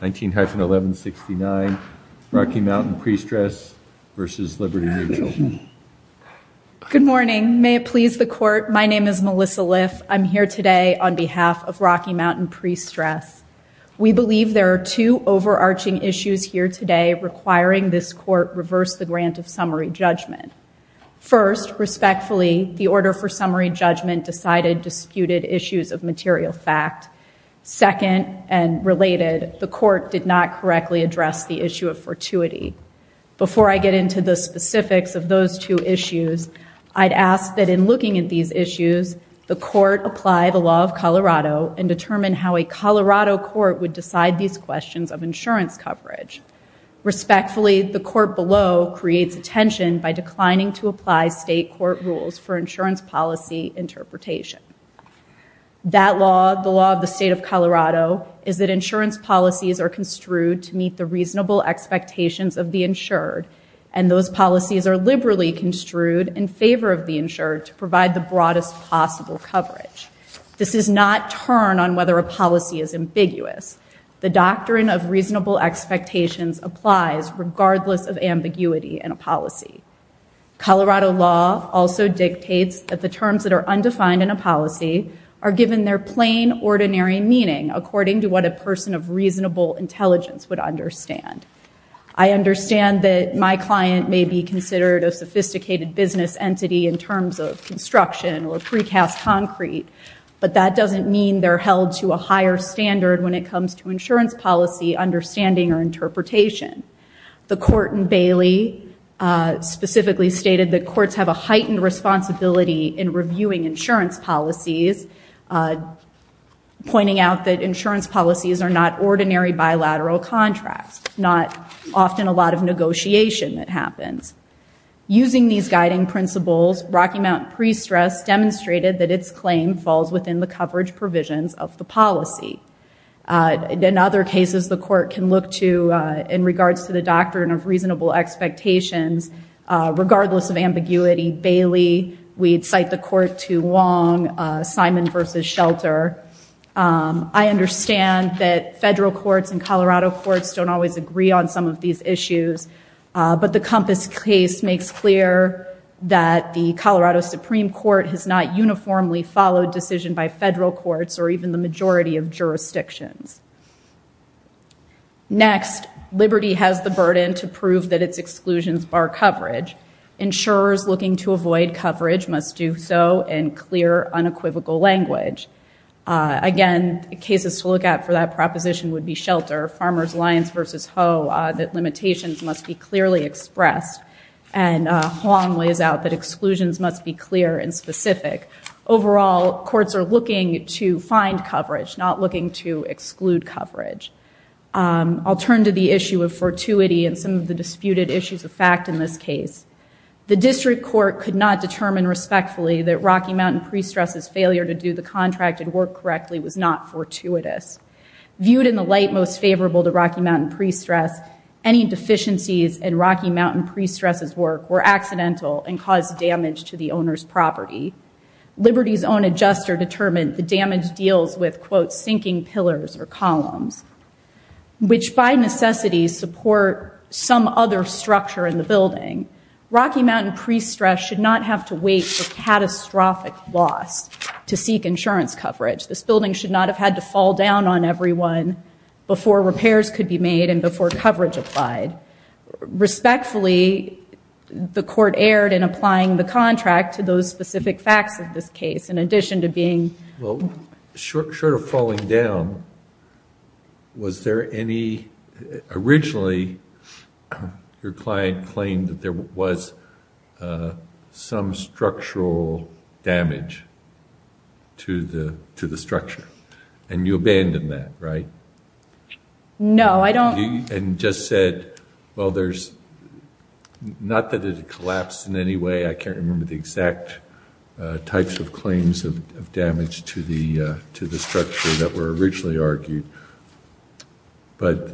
19-1169 Rocky Mountain Presstress v. Liberty Mutual Good morning may it please the court my name is Melissa Liff I'm here today on behalf of Rocky Mountain Presstress we believe there are two overarching issues here today requiring this court reverse the grant of summary judgment first respectfully the order for summary judgment decided disputed issues of material fact second and related the court did not correctly address the issue of fortuity before I get into the specifics of those two issues I'd ask that in looking at these issues the court apply the law of Colorado and determine how a Colorado court would decide these questions of insurance coverage respectfully the court below creates attention by declining to apply state court rules for the state of Colorado is that insurance policies are construed to meet the reasonable expectations of the insured and those policies are liberally construed in favor of the insured to provide the broadest possible coverage this is not turn on whether a policy is ambiguous the doctrine of reasonable expectations applies regardless of ambiguity in a policy Colorado law also dictates that the terms that are undefined in a policy are given their plain ordinary meaning according to what a person of reasonable intelligence would understand I understand that my client may be considered a sophisticated business entity in terms of construction or precast concrete but that doesn't mean they're held to a higher standard when it comes to insurance policy understanding or interpretation the court in Bailey specifically stated that courts have a heightened responsibility in reviewing insurance policies pointing out that insurance policies are not ordinary bilateral contracts not often a lot of negotiation that happens using these guiding principles Rocky Mount pre-stress demonstrated that its claim falls within the coverage provisions of the policy in other cases the court can look to in regards to the doctrine of reasonable expectations regardless of ambiguity Bailey we'd cite the court to Wong Simon versus Shelter I understand that federal courts and Colorado courts don't always agree on some of these issues but the compass case makes clear that the Colorado Supreme Court has not uniformly followed decision by federal courts or even the majority of jurisdictions next Liberty has the burden to prove that its exclusions bar coverage insurers looking to avoid coverage must do so in clear unequivocal language again cases to look at for that proposition would be Shelter Farmers Alliance versus Ho that limitations must be clearly expressed and Huang lays out that exclusions must be clear and specific overall courts are looking to find coverage not looking to exclude coverage I'll turn to the issue of the disputed issues of fact in this case the district court could not determine respectfully that Rocky Mountain pre-stresses failure to do the contract and work correctly was not fortuitous viewed in the light most favorable to Rocky Mountain pre-stress any deficiencies and Rocky Mountain pre-stresses work were accidental and caused damage to the owner's property Liberty's own adjuster determined the damage deals with quote sinking pillars or columns which by necessity support some other structure in the building Rocky Mountain pre-stress should not have to wait for catastrophic loss to seek insurance coverage this building should not have had to fall down on everyone before repairs could be made and before coverage applied respectfully the court erred in applying the contract to those specific facts of this case in addition to being well short of falling down was there any originally your client claimed that there was some structural damage to the to the structure and you abandoned that right no I don't and just said well there's not that it collapsed in any way I can't remember the exact types of claims of damage to the to the structure that were originally argued but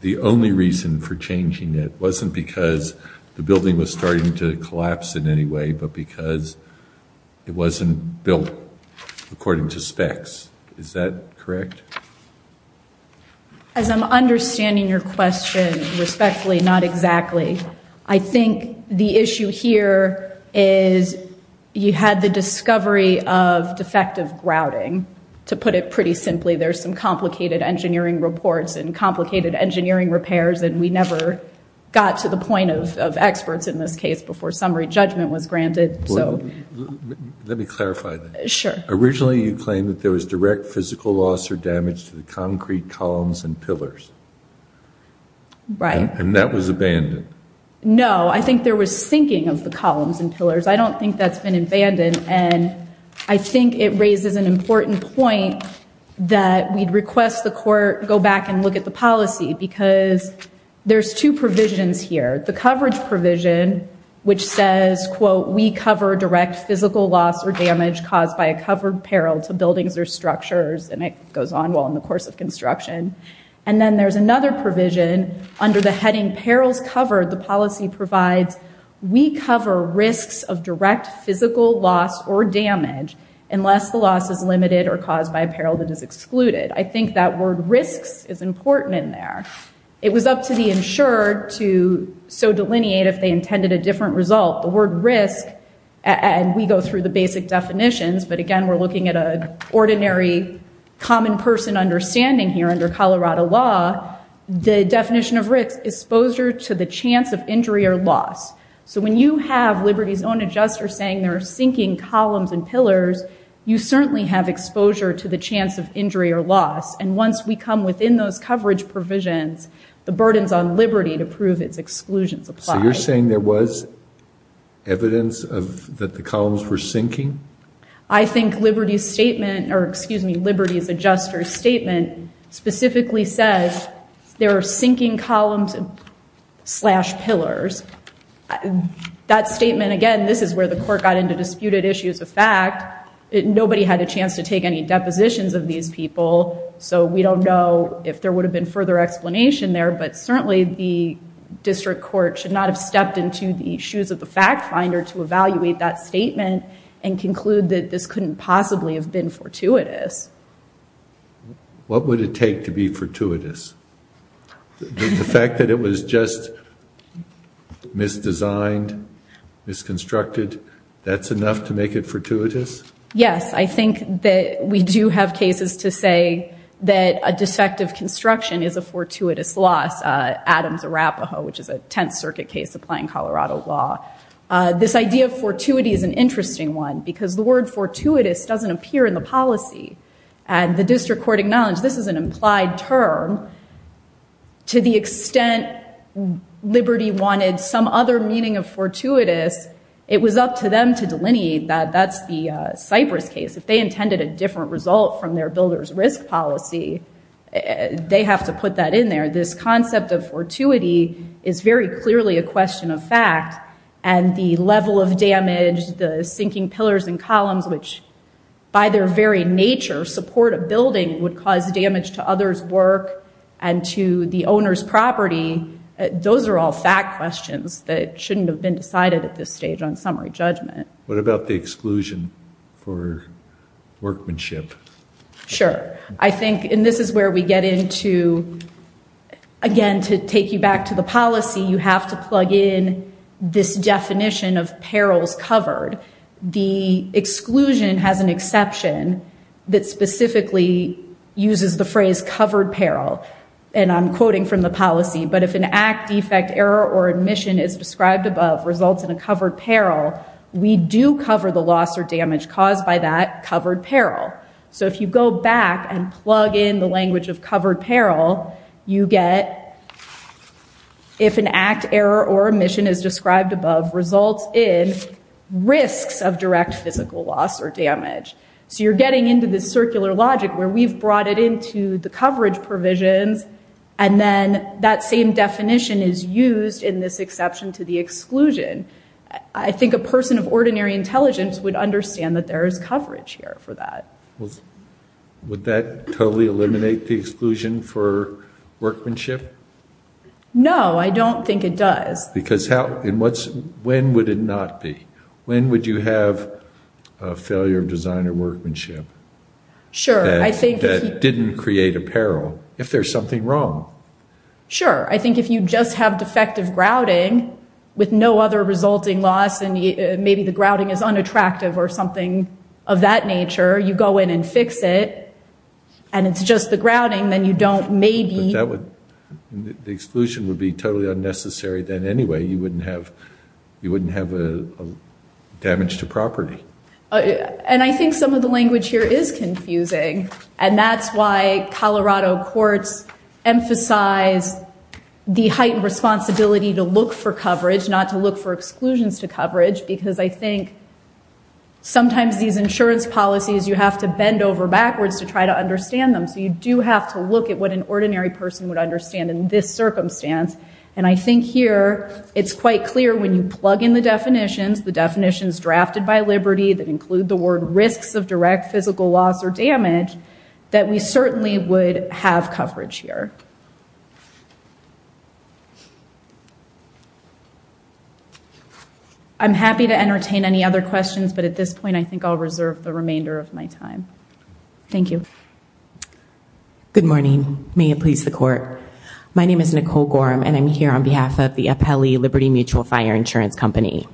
the only reason for changing it wasn't because the building was starting to collapse in any way but because it wasn't built according to specs is that correct as I'm understanding your question respectfully not exactly I think the had the discovery of defective grouting to put it pretty simply there's some complicated engineering reports and complicated engineering repairs and we never got to the point of of experts in this case before summary judgment was granted so let me clarify that sure originally you claimed that there was direct physical loss or damage to the concrete columns and pillars right and that was abandoned no I think there was sinking of the columns and pillars I don't think that's been abandoned and I think it raises an important point that we'd request the court go back and look at the policy because there's two provisions here the coverage provision which says quote we cover direct physical loss or damage caused by a covered peril to buildings or structures and it goes on well in the course of construction and then there's another provision under the heading perils covered the damage unless the loss is limited or caused by a peril that is excluded I think that word risks is important in there it was up to the insured to so delineate if they intended a different result the word risk and we go through the basic definitions but again we're looking at a ordinary common person understanding here under Colorado law the definition of risk exposure to the chance of injury or loss so when you have liberty's own adjuster saying there are sinking columns and pillars you certainly have exposure to the chance of injury or loss and once we come within those coverage provisions the burdens on liberty to prove its exclusions apply so you're saying there was evidence of that the columns were sinking I think liberty's statement or excuse me liberty's adjuster statement specifically says there are sinking columns slash pillars that statement again this is where the court got into disputed issues of fact nobody had a chance to take any depositions of these people so we don't know if there would have been further explanation there but certainly the district court should not have stepped into the shoes of the fact finder to evaluate that statement and conclude that this couldn't possibly have been fortuitous what would it take to be fortuitous the fact that it was just misdesigned misconstructed that's enough to make it fortuitous yes I think that we do have cases to say that a defective construction is a fortuitous loss Adams Arapaho which is a 10th circuit case applying Colorado law this idea of fortuity is an interesting one because the word fortuitous doesn't appear in the policy and the district court acknowledged this is an implied term to the extent liberty wanted some other meaning of fortuitous it was up to them to delineate that that's the cypress case if they intended a different result from their builders risk policy they have to put that in there this concept of fortuity is very clearly a question of fact and the level of damage the sinking pillars and columns which by their very nature support a building would cause damage to others work and to the owner's property those are all fact questions that shouldn't have been decided at this stage on summary judgment what about the exclusion for workmanship sure I think and this is where we get into again to take you back to the policy you have to plug in this definition of perils covered the exclusion has an exception that specifically uses the phrase covered peril and I'm quoting from the policy but if an act defect error or admission is described above results in a covered peril we do cover the loss or damage caused by that covered peril so if you go back and plug in the language of covered peril you get if an act error or omission is of direct physical loss or damage so you're getting into this circular logic where we've brought it into the coverage provisions and then that same definition is used in this exception to the exclusion I think a person of ordinary intelligence would understand that there is coverage here for that well would that totally eliminate the exclusion for workmanship no I don't think it does because how when would it not be when would you have a failure of designer workmanship sure I think that didn't create a peril if there's something wrong sure I think if you just have defective grouting with no other resulting loss and maybe the grouting is unattractive or something of that nature you go in and fix it and it's just the grouting then you don't maybe that would the exclusion would be totally unnecessary then anyway you wouldn't have you wouldn't have a damage to property and I think some of the language here is confusing and that's why Colorado courts emphasize the heightened responsibility to look for coverage not to look for exclusions to coverage because I think sometimes these insurance policies you have to bend over backwards to try to understand them so you do have to look at what an ordinary person would this circumstance and I think here it's quite clear when you plug in the definitions the definitions drafted by liberty that include the word risks of direct physical loss or damage that we certainly would have coverage here I'm happy to entertain any other questions but at this point I think I'll reserve the remainder of my time thank you good morning may it please the court my name is Nicole Gorham and I'm here on behalf of the appellee Liberty Mutual Fire Insurance Company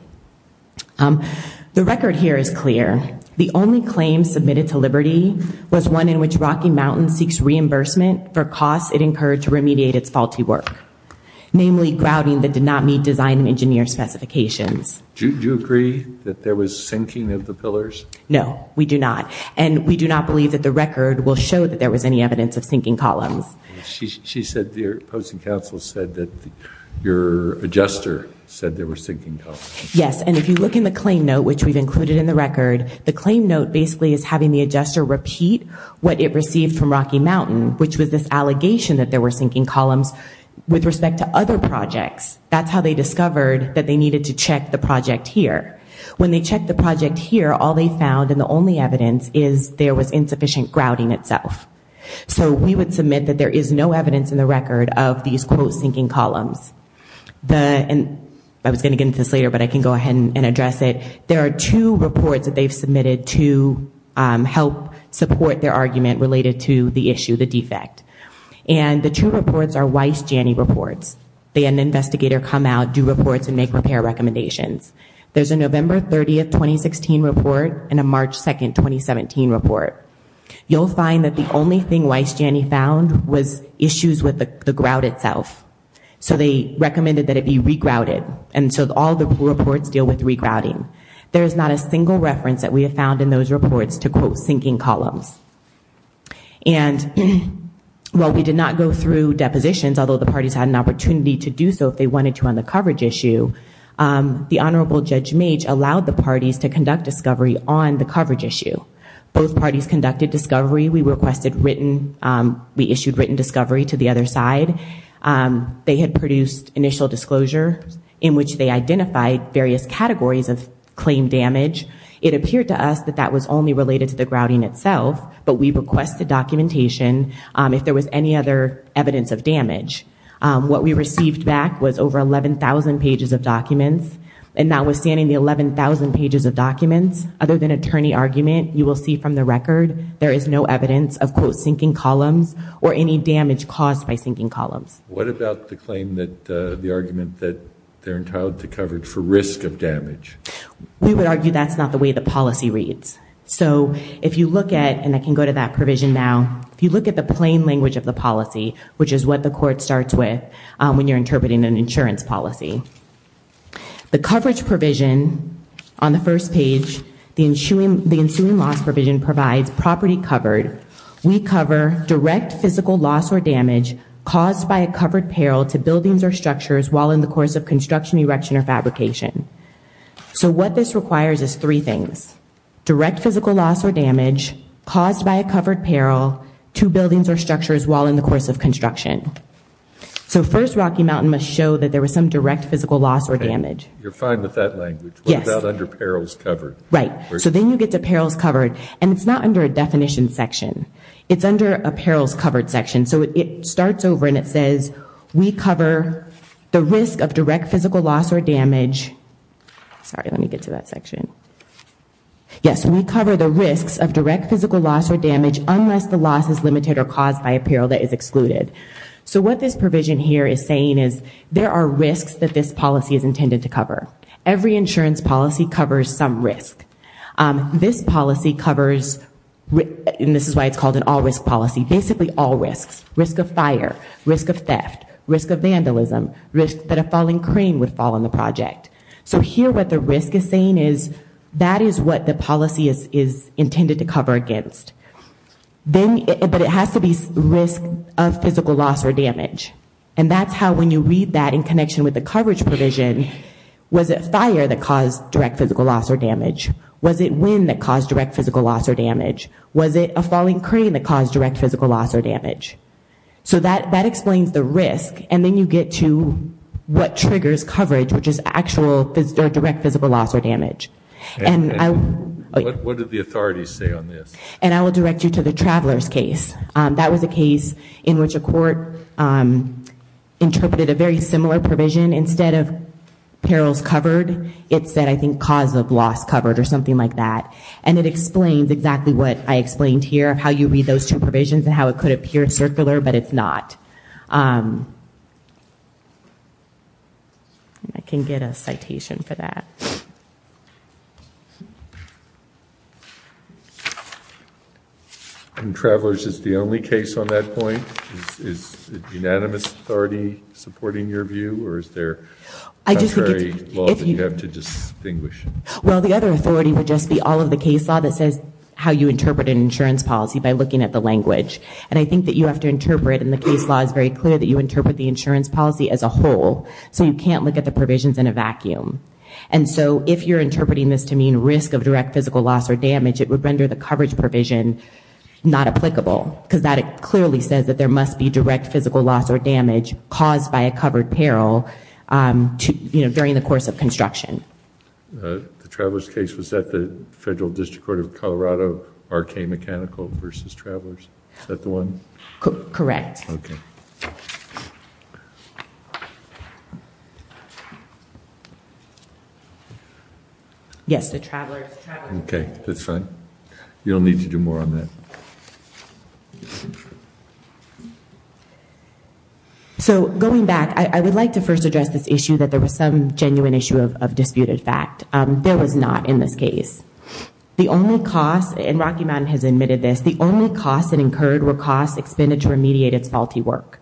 the record here is clear the only claim submitted to Liberty was one in which Rocky Mountain seeks reimbursement for costs it incurred to remediate its faulty work namely grouting that did not meet design and engineer specifications do you agree that there was sinking of the pillars no we do not and we do not believe that the show that there was any evidence of sinking columns she said the opposing counsel said that your adjuster said they were sinking yes and if you look in the claim note which we've included in the record the claim note basically is having the adjuster repeat what it received from Rocky Mountain which was this allegation that there were sinking columns with respect to other projects that's how they discovered that they needed to check the project here when they check the project here all they found and the only evidence is there was insufficient grouting itself so we would submit that there is no evidence in the record of these quote sinking columns the and I was going to get into this later but I can go ahead and address it there are two reports that they've submitted to help support their argument related to the issue the defect and the two reports are Weiss Janney reports they an investigator come out do reports and make repair recommendations there's a November 30th 2016 report and a March 2nd 2017 report you'll find that the only thing Weiss Janney found was issues with the grout itself so they recommended that it be regrouted and so all the reports deal with regrouting there is not a single reference that we have found in those reports to quote sinking columns and well we did not go through depositions although the parties had an opportunity to do so if they wanted to on the coverage issue the honorable judge mage allowed the parties to conduct discovery on the coverage issue both parties conducted discovery we requested written we issued written discovery to the other side they had produced initial disclosure in which they identified various categories of claim damage it appeared to us that that was only related to the grouting itself but we requested documentation if there was any other evidence of damage what we received back was over 11,000 pages of documents and notwithstanding the 11,000 pages of documents other than attorney argument you will see from the record there is no evidence of quote sinking columns or any damage caused by sinking columns what about the claim that the argument that they're entitled to coverage for risk of damage we would argue that's not the way the policy reads so if you look at and I can go to that provision now if you look at the plain language of the policy which is what the court starts with when you're on the first page the ensuing the ensuing loss provision provides property covered we cover direct physical loss or damage caused by a covered peril to buildings or structures while in the course of construction erection or fabrication so what this requires is three things direct physical loss or damage caused by a covered peril to buildings or structures while in the course of construction so first Rocky Mountain must show that there was some direct physical loss or damage you're fine with that language yes that under perils covered right so then you get to perils covered and it's not under a definition section it's under a perils covered section so it starts over and it says we cover the risk of direct physical loss or damage sorry let me get to that section yes we cover the risks of direct physical loss or damage unless the loss is limited or caused by a peril that is excluded so what this policy is intended to cover every insurance policy covers some risk this policy covers and this is why it's called an all-risk policy basically all risks risk of fire risk of theft risk of vandalism risk that a falling crane would fall on the project so here what the risk is saying is that is what the policy is intended to cover against then but it has to be risk of physical loss or damage and that's how when you read that in connection with the coverage provision was it fire that caused direct physical loss or damage was it wind that caused direct physical loss or damage was it a falling crane that caused direct physical loss or damage so that that explains the risk and then you get to what triggers coverage which is actual direct physical loss or damage and I what did the authorities say on this and I will direct you to the interpreted a very similar provision instead of perils covered it said I think cause of loss covered or something like that and it explains exactly what I explained here how you read those two provisions and how it could appear circular but it's not I can get a citation for that and travelers is the only case on that point is unanimous authority supporting your view or is there I just very well you have to distinguish well the other authority would just be all of the case law that says how you interpret an insurance policy by looking at the language and I think that you have to interpret and the case law is very clear that you interpret the insurance policy as a whole so you can't look at the provisions in a vacuum and so if you're or damage it would render the coverage provision not applicable because that it clearly says that there must be direct physical loss or damage caused by a covered peril to you know during the course of construction the travelers case was that the federal district court of Colorado RK mechanical versus one correct yes the travelers okay that's right you don't need to do more on that so going back I would like to first address this issue that there was some genuine issue of disputed fact there was not in this case the only cost in Rocky Mountain has admitted this the only cost that incurred were costs expended to remediate its faulty work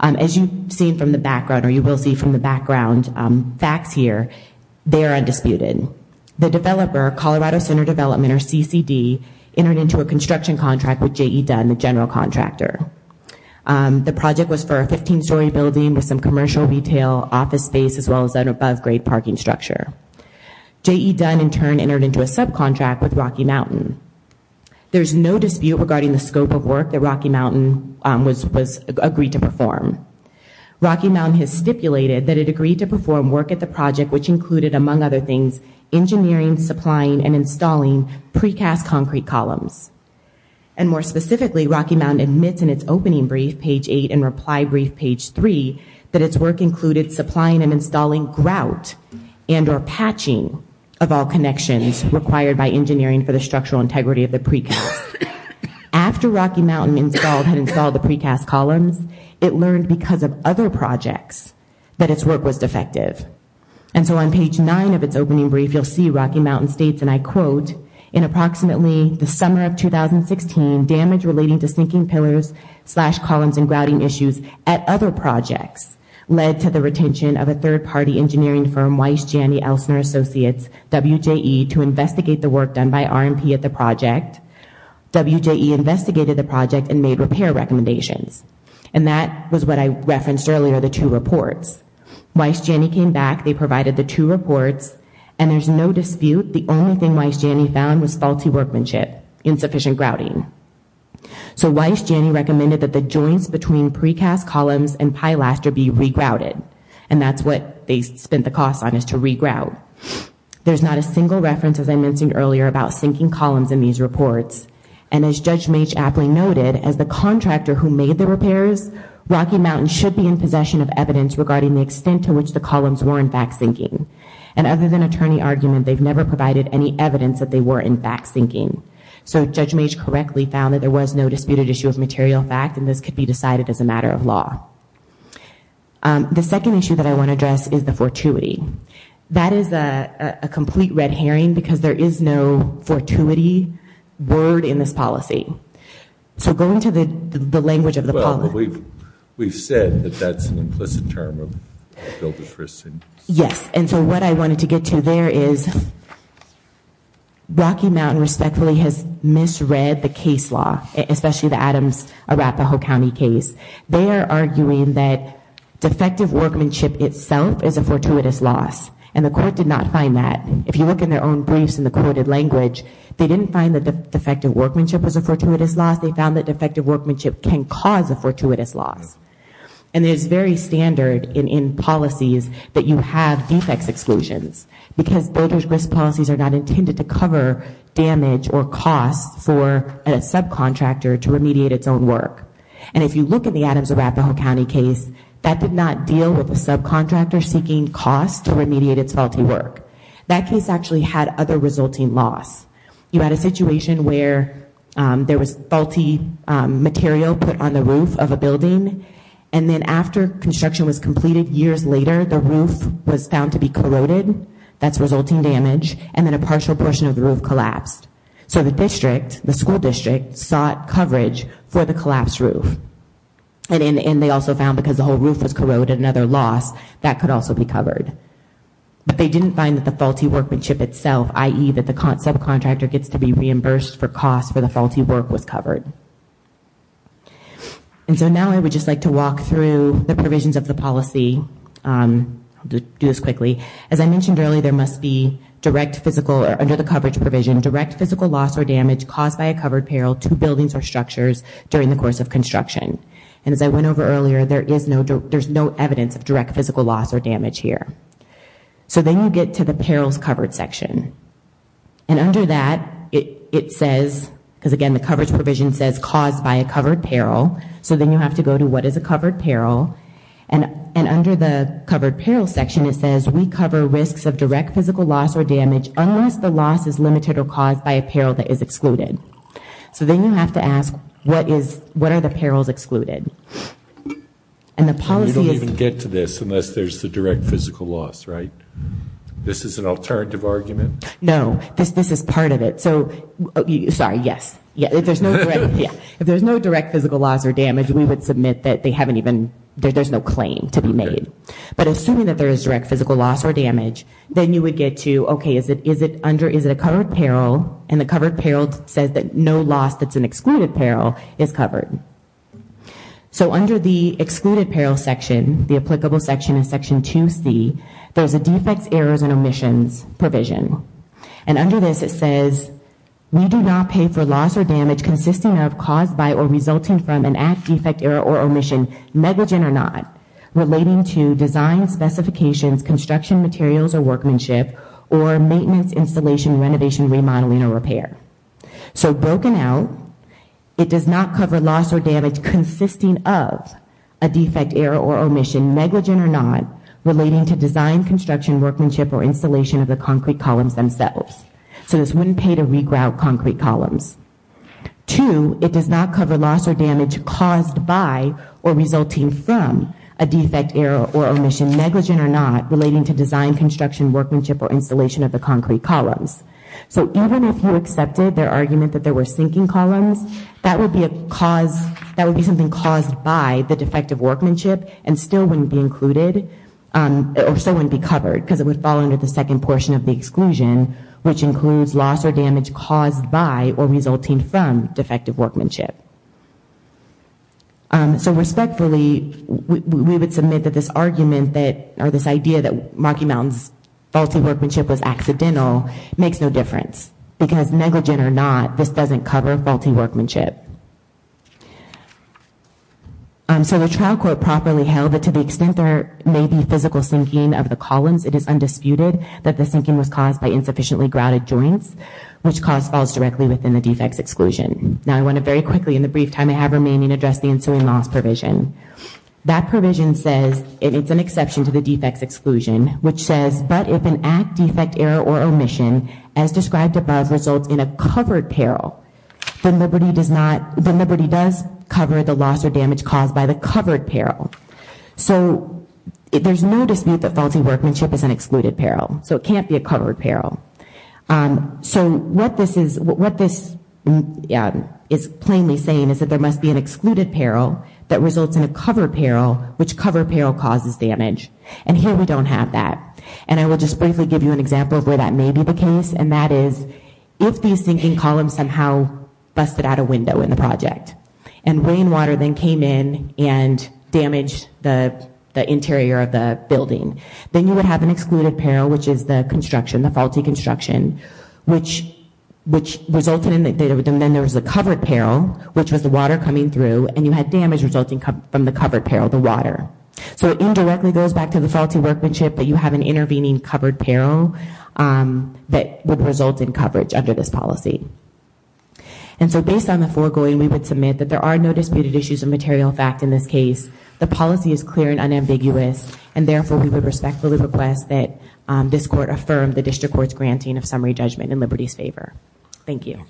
as you've seen from the background or you will see from the background facts here they are undisputed the developer Colorado Center development or CCD entered into a construction contract with J.E. Dunn the general contractor the project was for a 15-story building with some commercial retail office space as well as an above-grade parking structure J.E. Dunn in turn entered into a subcontract with Rocky Mountain there's no dispute regarding the scope of work that Rocky Mountain was was agreed to perform Rocky Mountain has stipulated that it agreed to perform work at the project which included among other things engineering supplying and installing precast concrete columns and more specifically Rocky Mountain admits in its opening brief page 8 and reply brief page 3 that its work included supplying and installing grout and or patching of all connections required by engineering for the structural integrity of the precast after Rocky Mountain installed had installed the precast columns it learned because of other projects that its work was defective and so on page 9 of its opening brief you'll see Rocky Mountain states and I quote in approximately the summer of 2016 damage relating to sinking pillars slash columns and grouting issues at other projects led to the retention of a third-party engineering firm Weiss Janney Elstner Associates WJE to investigate the work done by RMP at the project WJE investigated the project and made repair recommendations and that was what I referenced earlier the two reports Weiss Janney came back they provided the two reports and there's no dispute the only thing Weiss Janney found was faulty workmanship insufficient grouting so Weiss Janney recommended that the joints between precast columns and pilaster be re-grouted and that's what they spent the cost on is to re-grout there's not a single reference as I mentioned earlier about sinking columns in these reports and as Judge Mage aptly noted as the contractor who made the repairs Rocky Mountain should be in possession of evidence regarding the extent to which the columns were in fact sinking and other than attorney argument they've never provided any evidence that they were in fact sinking so Judge Mage correctly found that there was no disputed issue of material fact and this could be decided as a matter of law the second issue that I want to address is the fortuity that is a complete red herring because there is no fortuity word in this policy so going to the the language of the we've we've said that that's an implicit term yes and so what I wanted to get to there is Rocky Mountain respectfully has misread the case law especially the Adams Arapahoe County case they are arguing that defective workmanship itself is a fortuitous loss and the court did not find that if you look in their own briefs in the quoted language they didn't find that the defective workmanship was a fortuitous loss they found that defective workmanship can cause a fortuitous loss and there's very standard in in policies that you have defects exclusions because builders risk policies are not intended to cover damage or cost for a subcontractor to remediate its own work and if you look at the Adams Arapahoe County case that did not deal with the subcontractor seeking cost to remediate its faulty work that case actually had other resulting loss you had a situation where there was faulty material put on the roof of a building and then after construction was completed years later the roof was found to be corroded that's resulting damage and then a partial portion of the roof collapsed so the district the school district sought coverage for the collapsed roof and in the end they also found because the whole roof was corroded another loss that could also be covered but they didn't find that the faulty workmanship itself ie that the concept contractor gets to be reimbursed for cost for the faulty work was covered and so now I would just like to walk through the provisions of the policy to do this quickly as I mentioned earlier there must be direct physical or under the coverage provision direct physical loss or damage caused by a covered peril to buildings or structures during the course of construction and as I went over earlier there is no there's no evidence of direct physical loss or damage here so then you get to the perils covered section and under that it says because again the coverage provision says caused by a covered peril so then you have to go to what is a covered peril and and under the covered peril section it says we cover risks of direct physical loss or damage unless the loss is limited or caused by a peril that is excluded so then you have to ask what is what are the perils excluded and the policy is to get to this unless there's the direct physical loss right this is an alternative argument no this this is part of it so sorry yes yeah if there's no yeah if there's no direct physical loss or damage we would submit that they haven't even there's no claim to be made but assuming that there is direct physical loss or damage then you would get to okay is it is it under is it a covered peril and the covered peril says that no loss that's an excluded peril is covered so under the excluded peril section the applicable section in section to see there's a defects errors and omissions provision and under this it says we do not pay for loss or damage consisting of caused by or resulting from an act defect error or omission negligent or not relating to design specifications construction materials or workmanship or maintenance installation renovation remodeling or repair so broken out it does not cover loss or damage consisting of a defect error or omission negligent or not relating to design construction workmanship or installation of the concrete columns themselves so this wouldn't pay to regrout concrete columns to it does not cover loss or damage caused by or resulting from a defect error or omission negligent or not relating to design construction workmanship or installation of the concrete columns so even if you accepted their argument that there were sinking columns that would be a cause that would be something caused by the defective workmanship and still wouldn't be included or so wouldn't be covered because it would fall under the second portion of the exclusion which so respectfully we would submit that this argument that or this idea that Rocky Mountains faulty workmanship was accidental makes no difference because negligent or not this doesn't cover faulty workmanship so the trial court properly held that to the extent there may be physical sinking of the columns it is undisputed that the sinking was caused by insufficiently grouted joints which cause falls directly within the defects exclusion now I want to very quickly in the brief time I have remaining address the ensuing loss provision that provision says it's an exception to the defects exclusion which says but if an act defect error or omission as described above results in a covered peril then Liberty does not the Liberty does cover the loss or damage caused by the covered peril so there's no dispute that faulty workmanship is an excluded peril so it can't be a covered peril so what this is what this is plainly saying is that there must be an excluded peril that results in a cover peril which cover peril causes damage and here we don't have that and I will just briefly give you an example of where that may be the case and that is if these sinking columns somehow busted out a window in the project and rain water then came in and damaged the interior of the building then you would have an excluded peril which is the construction the faulty construction which which resulted in that then there was a covered peril which was the water coming through and you had damage resulting from the covered peril the water so it indirectly goes back to the faulty workmanship but you have an intervening covered peril that would result in coverage under this policy and so based on the foregoing we would submit that there are no disputed issues of material fact in this case the policy is clear and unambiguous and therefore we would respectfully request that this court affirm the district courts granting of summary judgment in Liberty's favor thank you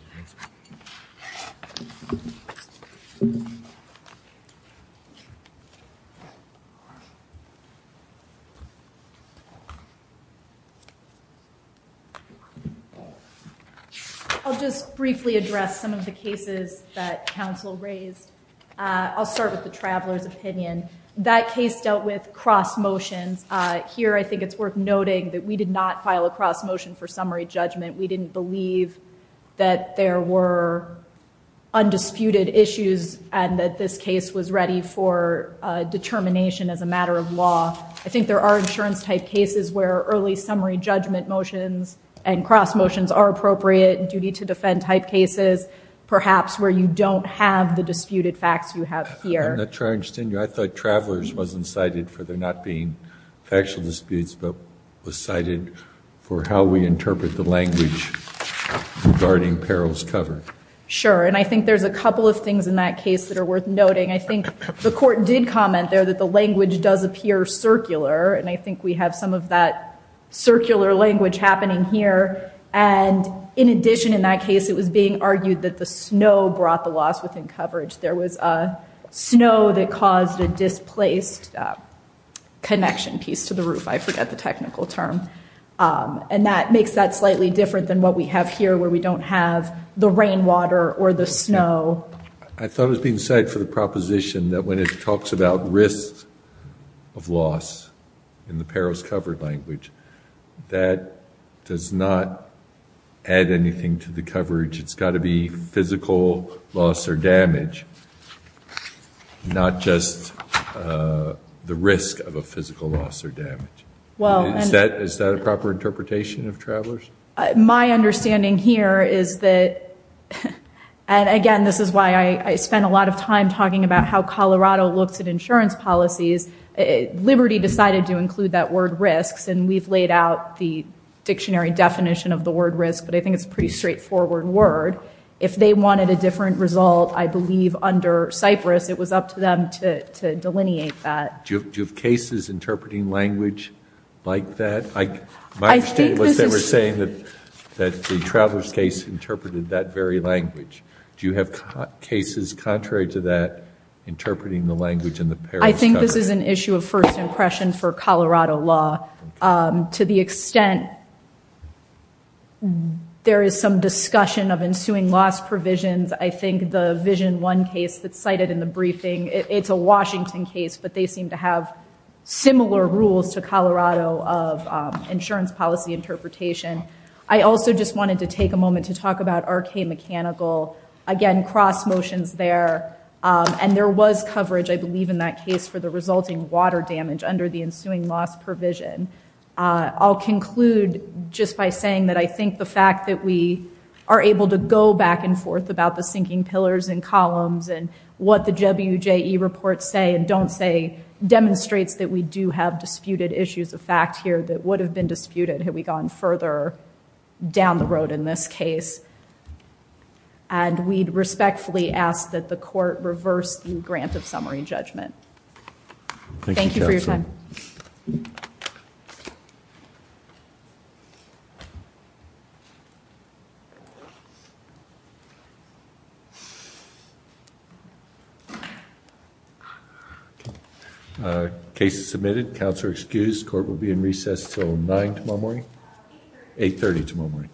I'll just briefly address some of the cases that counsel raised I'll start with the travelers opinion that case dealt with cross motions here I think it's worth noting that we did not file a cross motion for summary judgment we didn't believe that there were undisputed issues and that this case was ready for determination as a matter of law I think there are insurance type cases where early summary judgment motions and cross motions are appropriate and duty to defend type cases perhaps where you don't have the disputed facts you have here the charge tenure I thought travelers wasn't cited for they're not being factual disputes but was cited for how we interpret the language regarding perils cover sure and I think there's a couple of things in that case that are worth noting I think the court did comment there that the language does appear circular and I think we have some of that circular language happening here and in addition in that case it was being argued that the snow brought the loss within coverage there was a snow that caused a placed connection piece to the roof I forget the technical term and that makes that slightly different than what we have here where we don't have the rainwater or the snow I thought it was being said for the proposition that when it talks about risks of loss in the perils covered language that does not add anything to the coverage it's got to be physical loss or damage not just the risk of a physical loss or damage well is that is that a proper interpretation of travelers my understanding here is that and again this is why I spent a lot of time talking about how Colorado looks at insurance policies Liberty decided to include that word risks and we've laid out the dictionary definition of the word risk but I think it's pretty straightforward word if they wanted a different result I believe under Cyprus it was up to them to delineate that do you have cases interpreting language like that I understand what they were saying that that the travelers case interpreted that very language do you have cases contrary to that interpreting the language in the pair I think this is an issue of first impression for Colorado law to the extent there is some discussion of ensuing loss provisions I think the vision one case that cited in the briefing it's a Washington case but they seem to have similar rules to Colorado of insurance policy interpretation I also just wanted to take a moment to talk about our K mechanical again cross motions there and there was coverage I believe in that case for the resulting water damage under the ensuing loss provision I'll conclude just by saying that I think the fact that we are able to go back and pillars and columns and what the WJ e-report say and don't say demonstrates that we do have disputed issues of fact here that would have been disputed had we gone further down the road in this case and we'd respectfully ask that the court reversed the grant of summary judgment thank you for your time okay submitted counselor excused court will be in recess till 9 tomorrow 830 tomorrow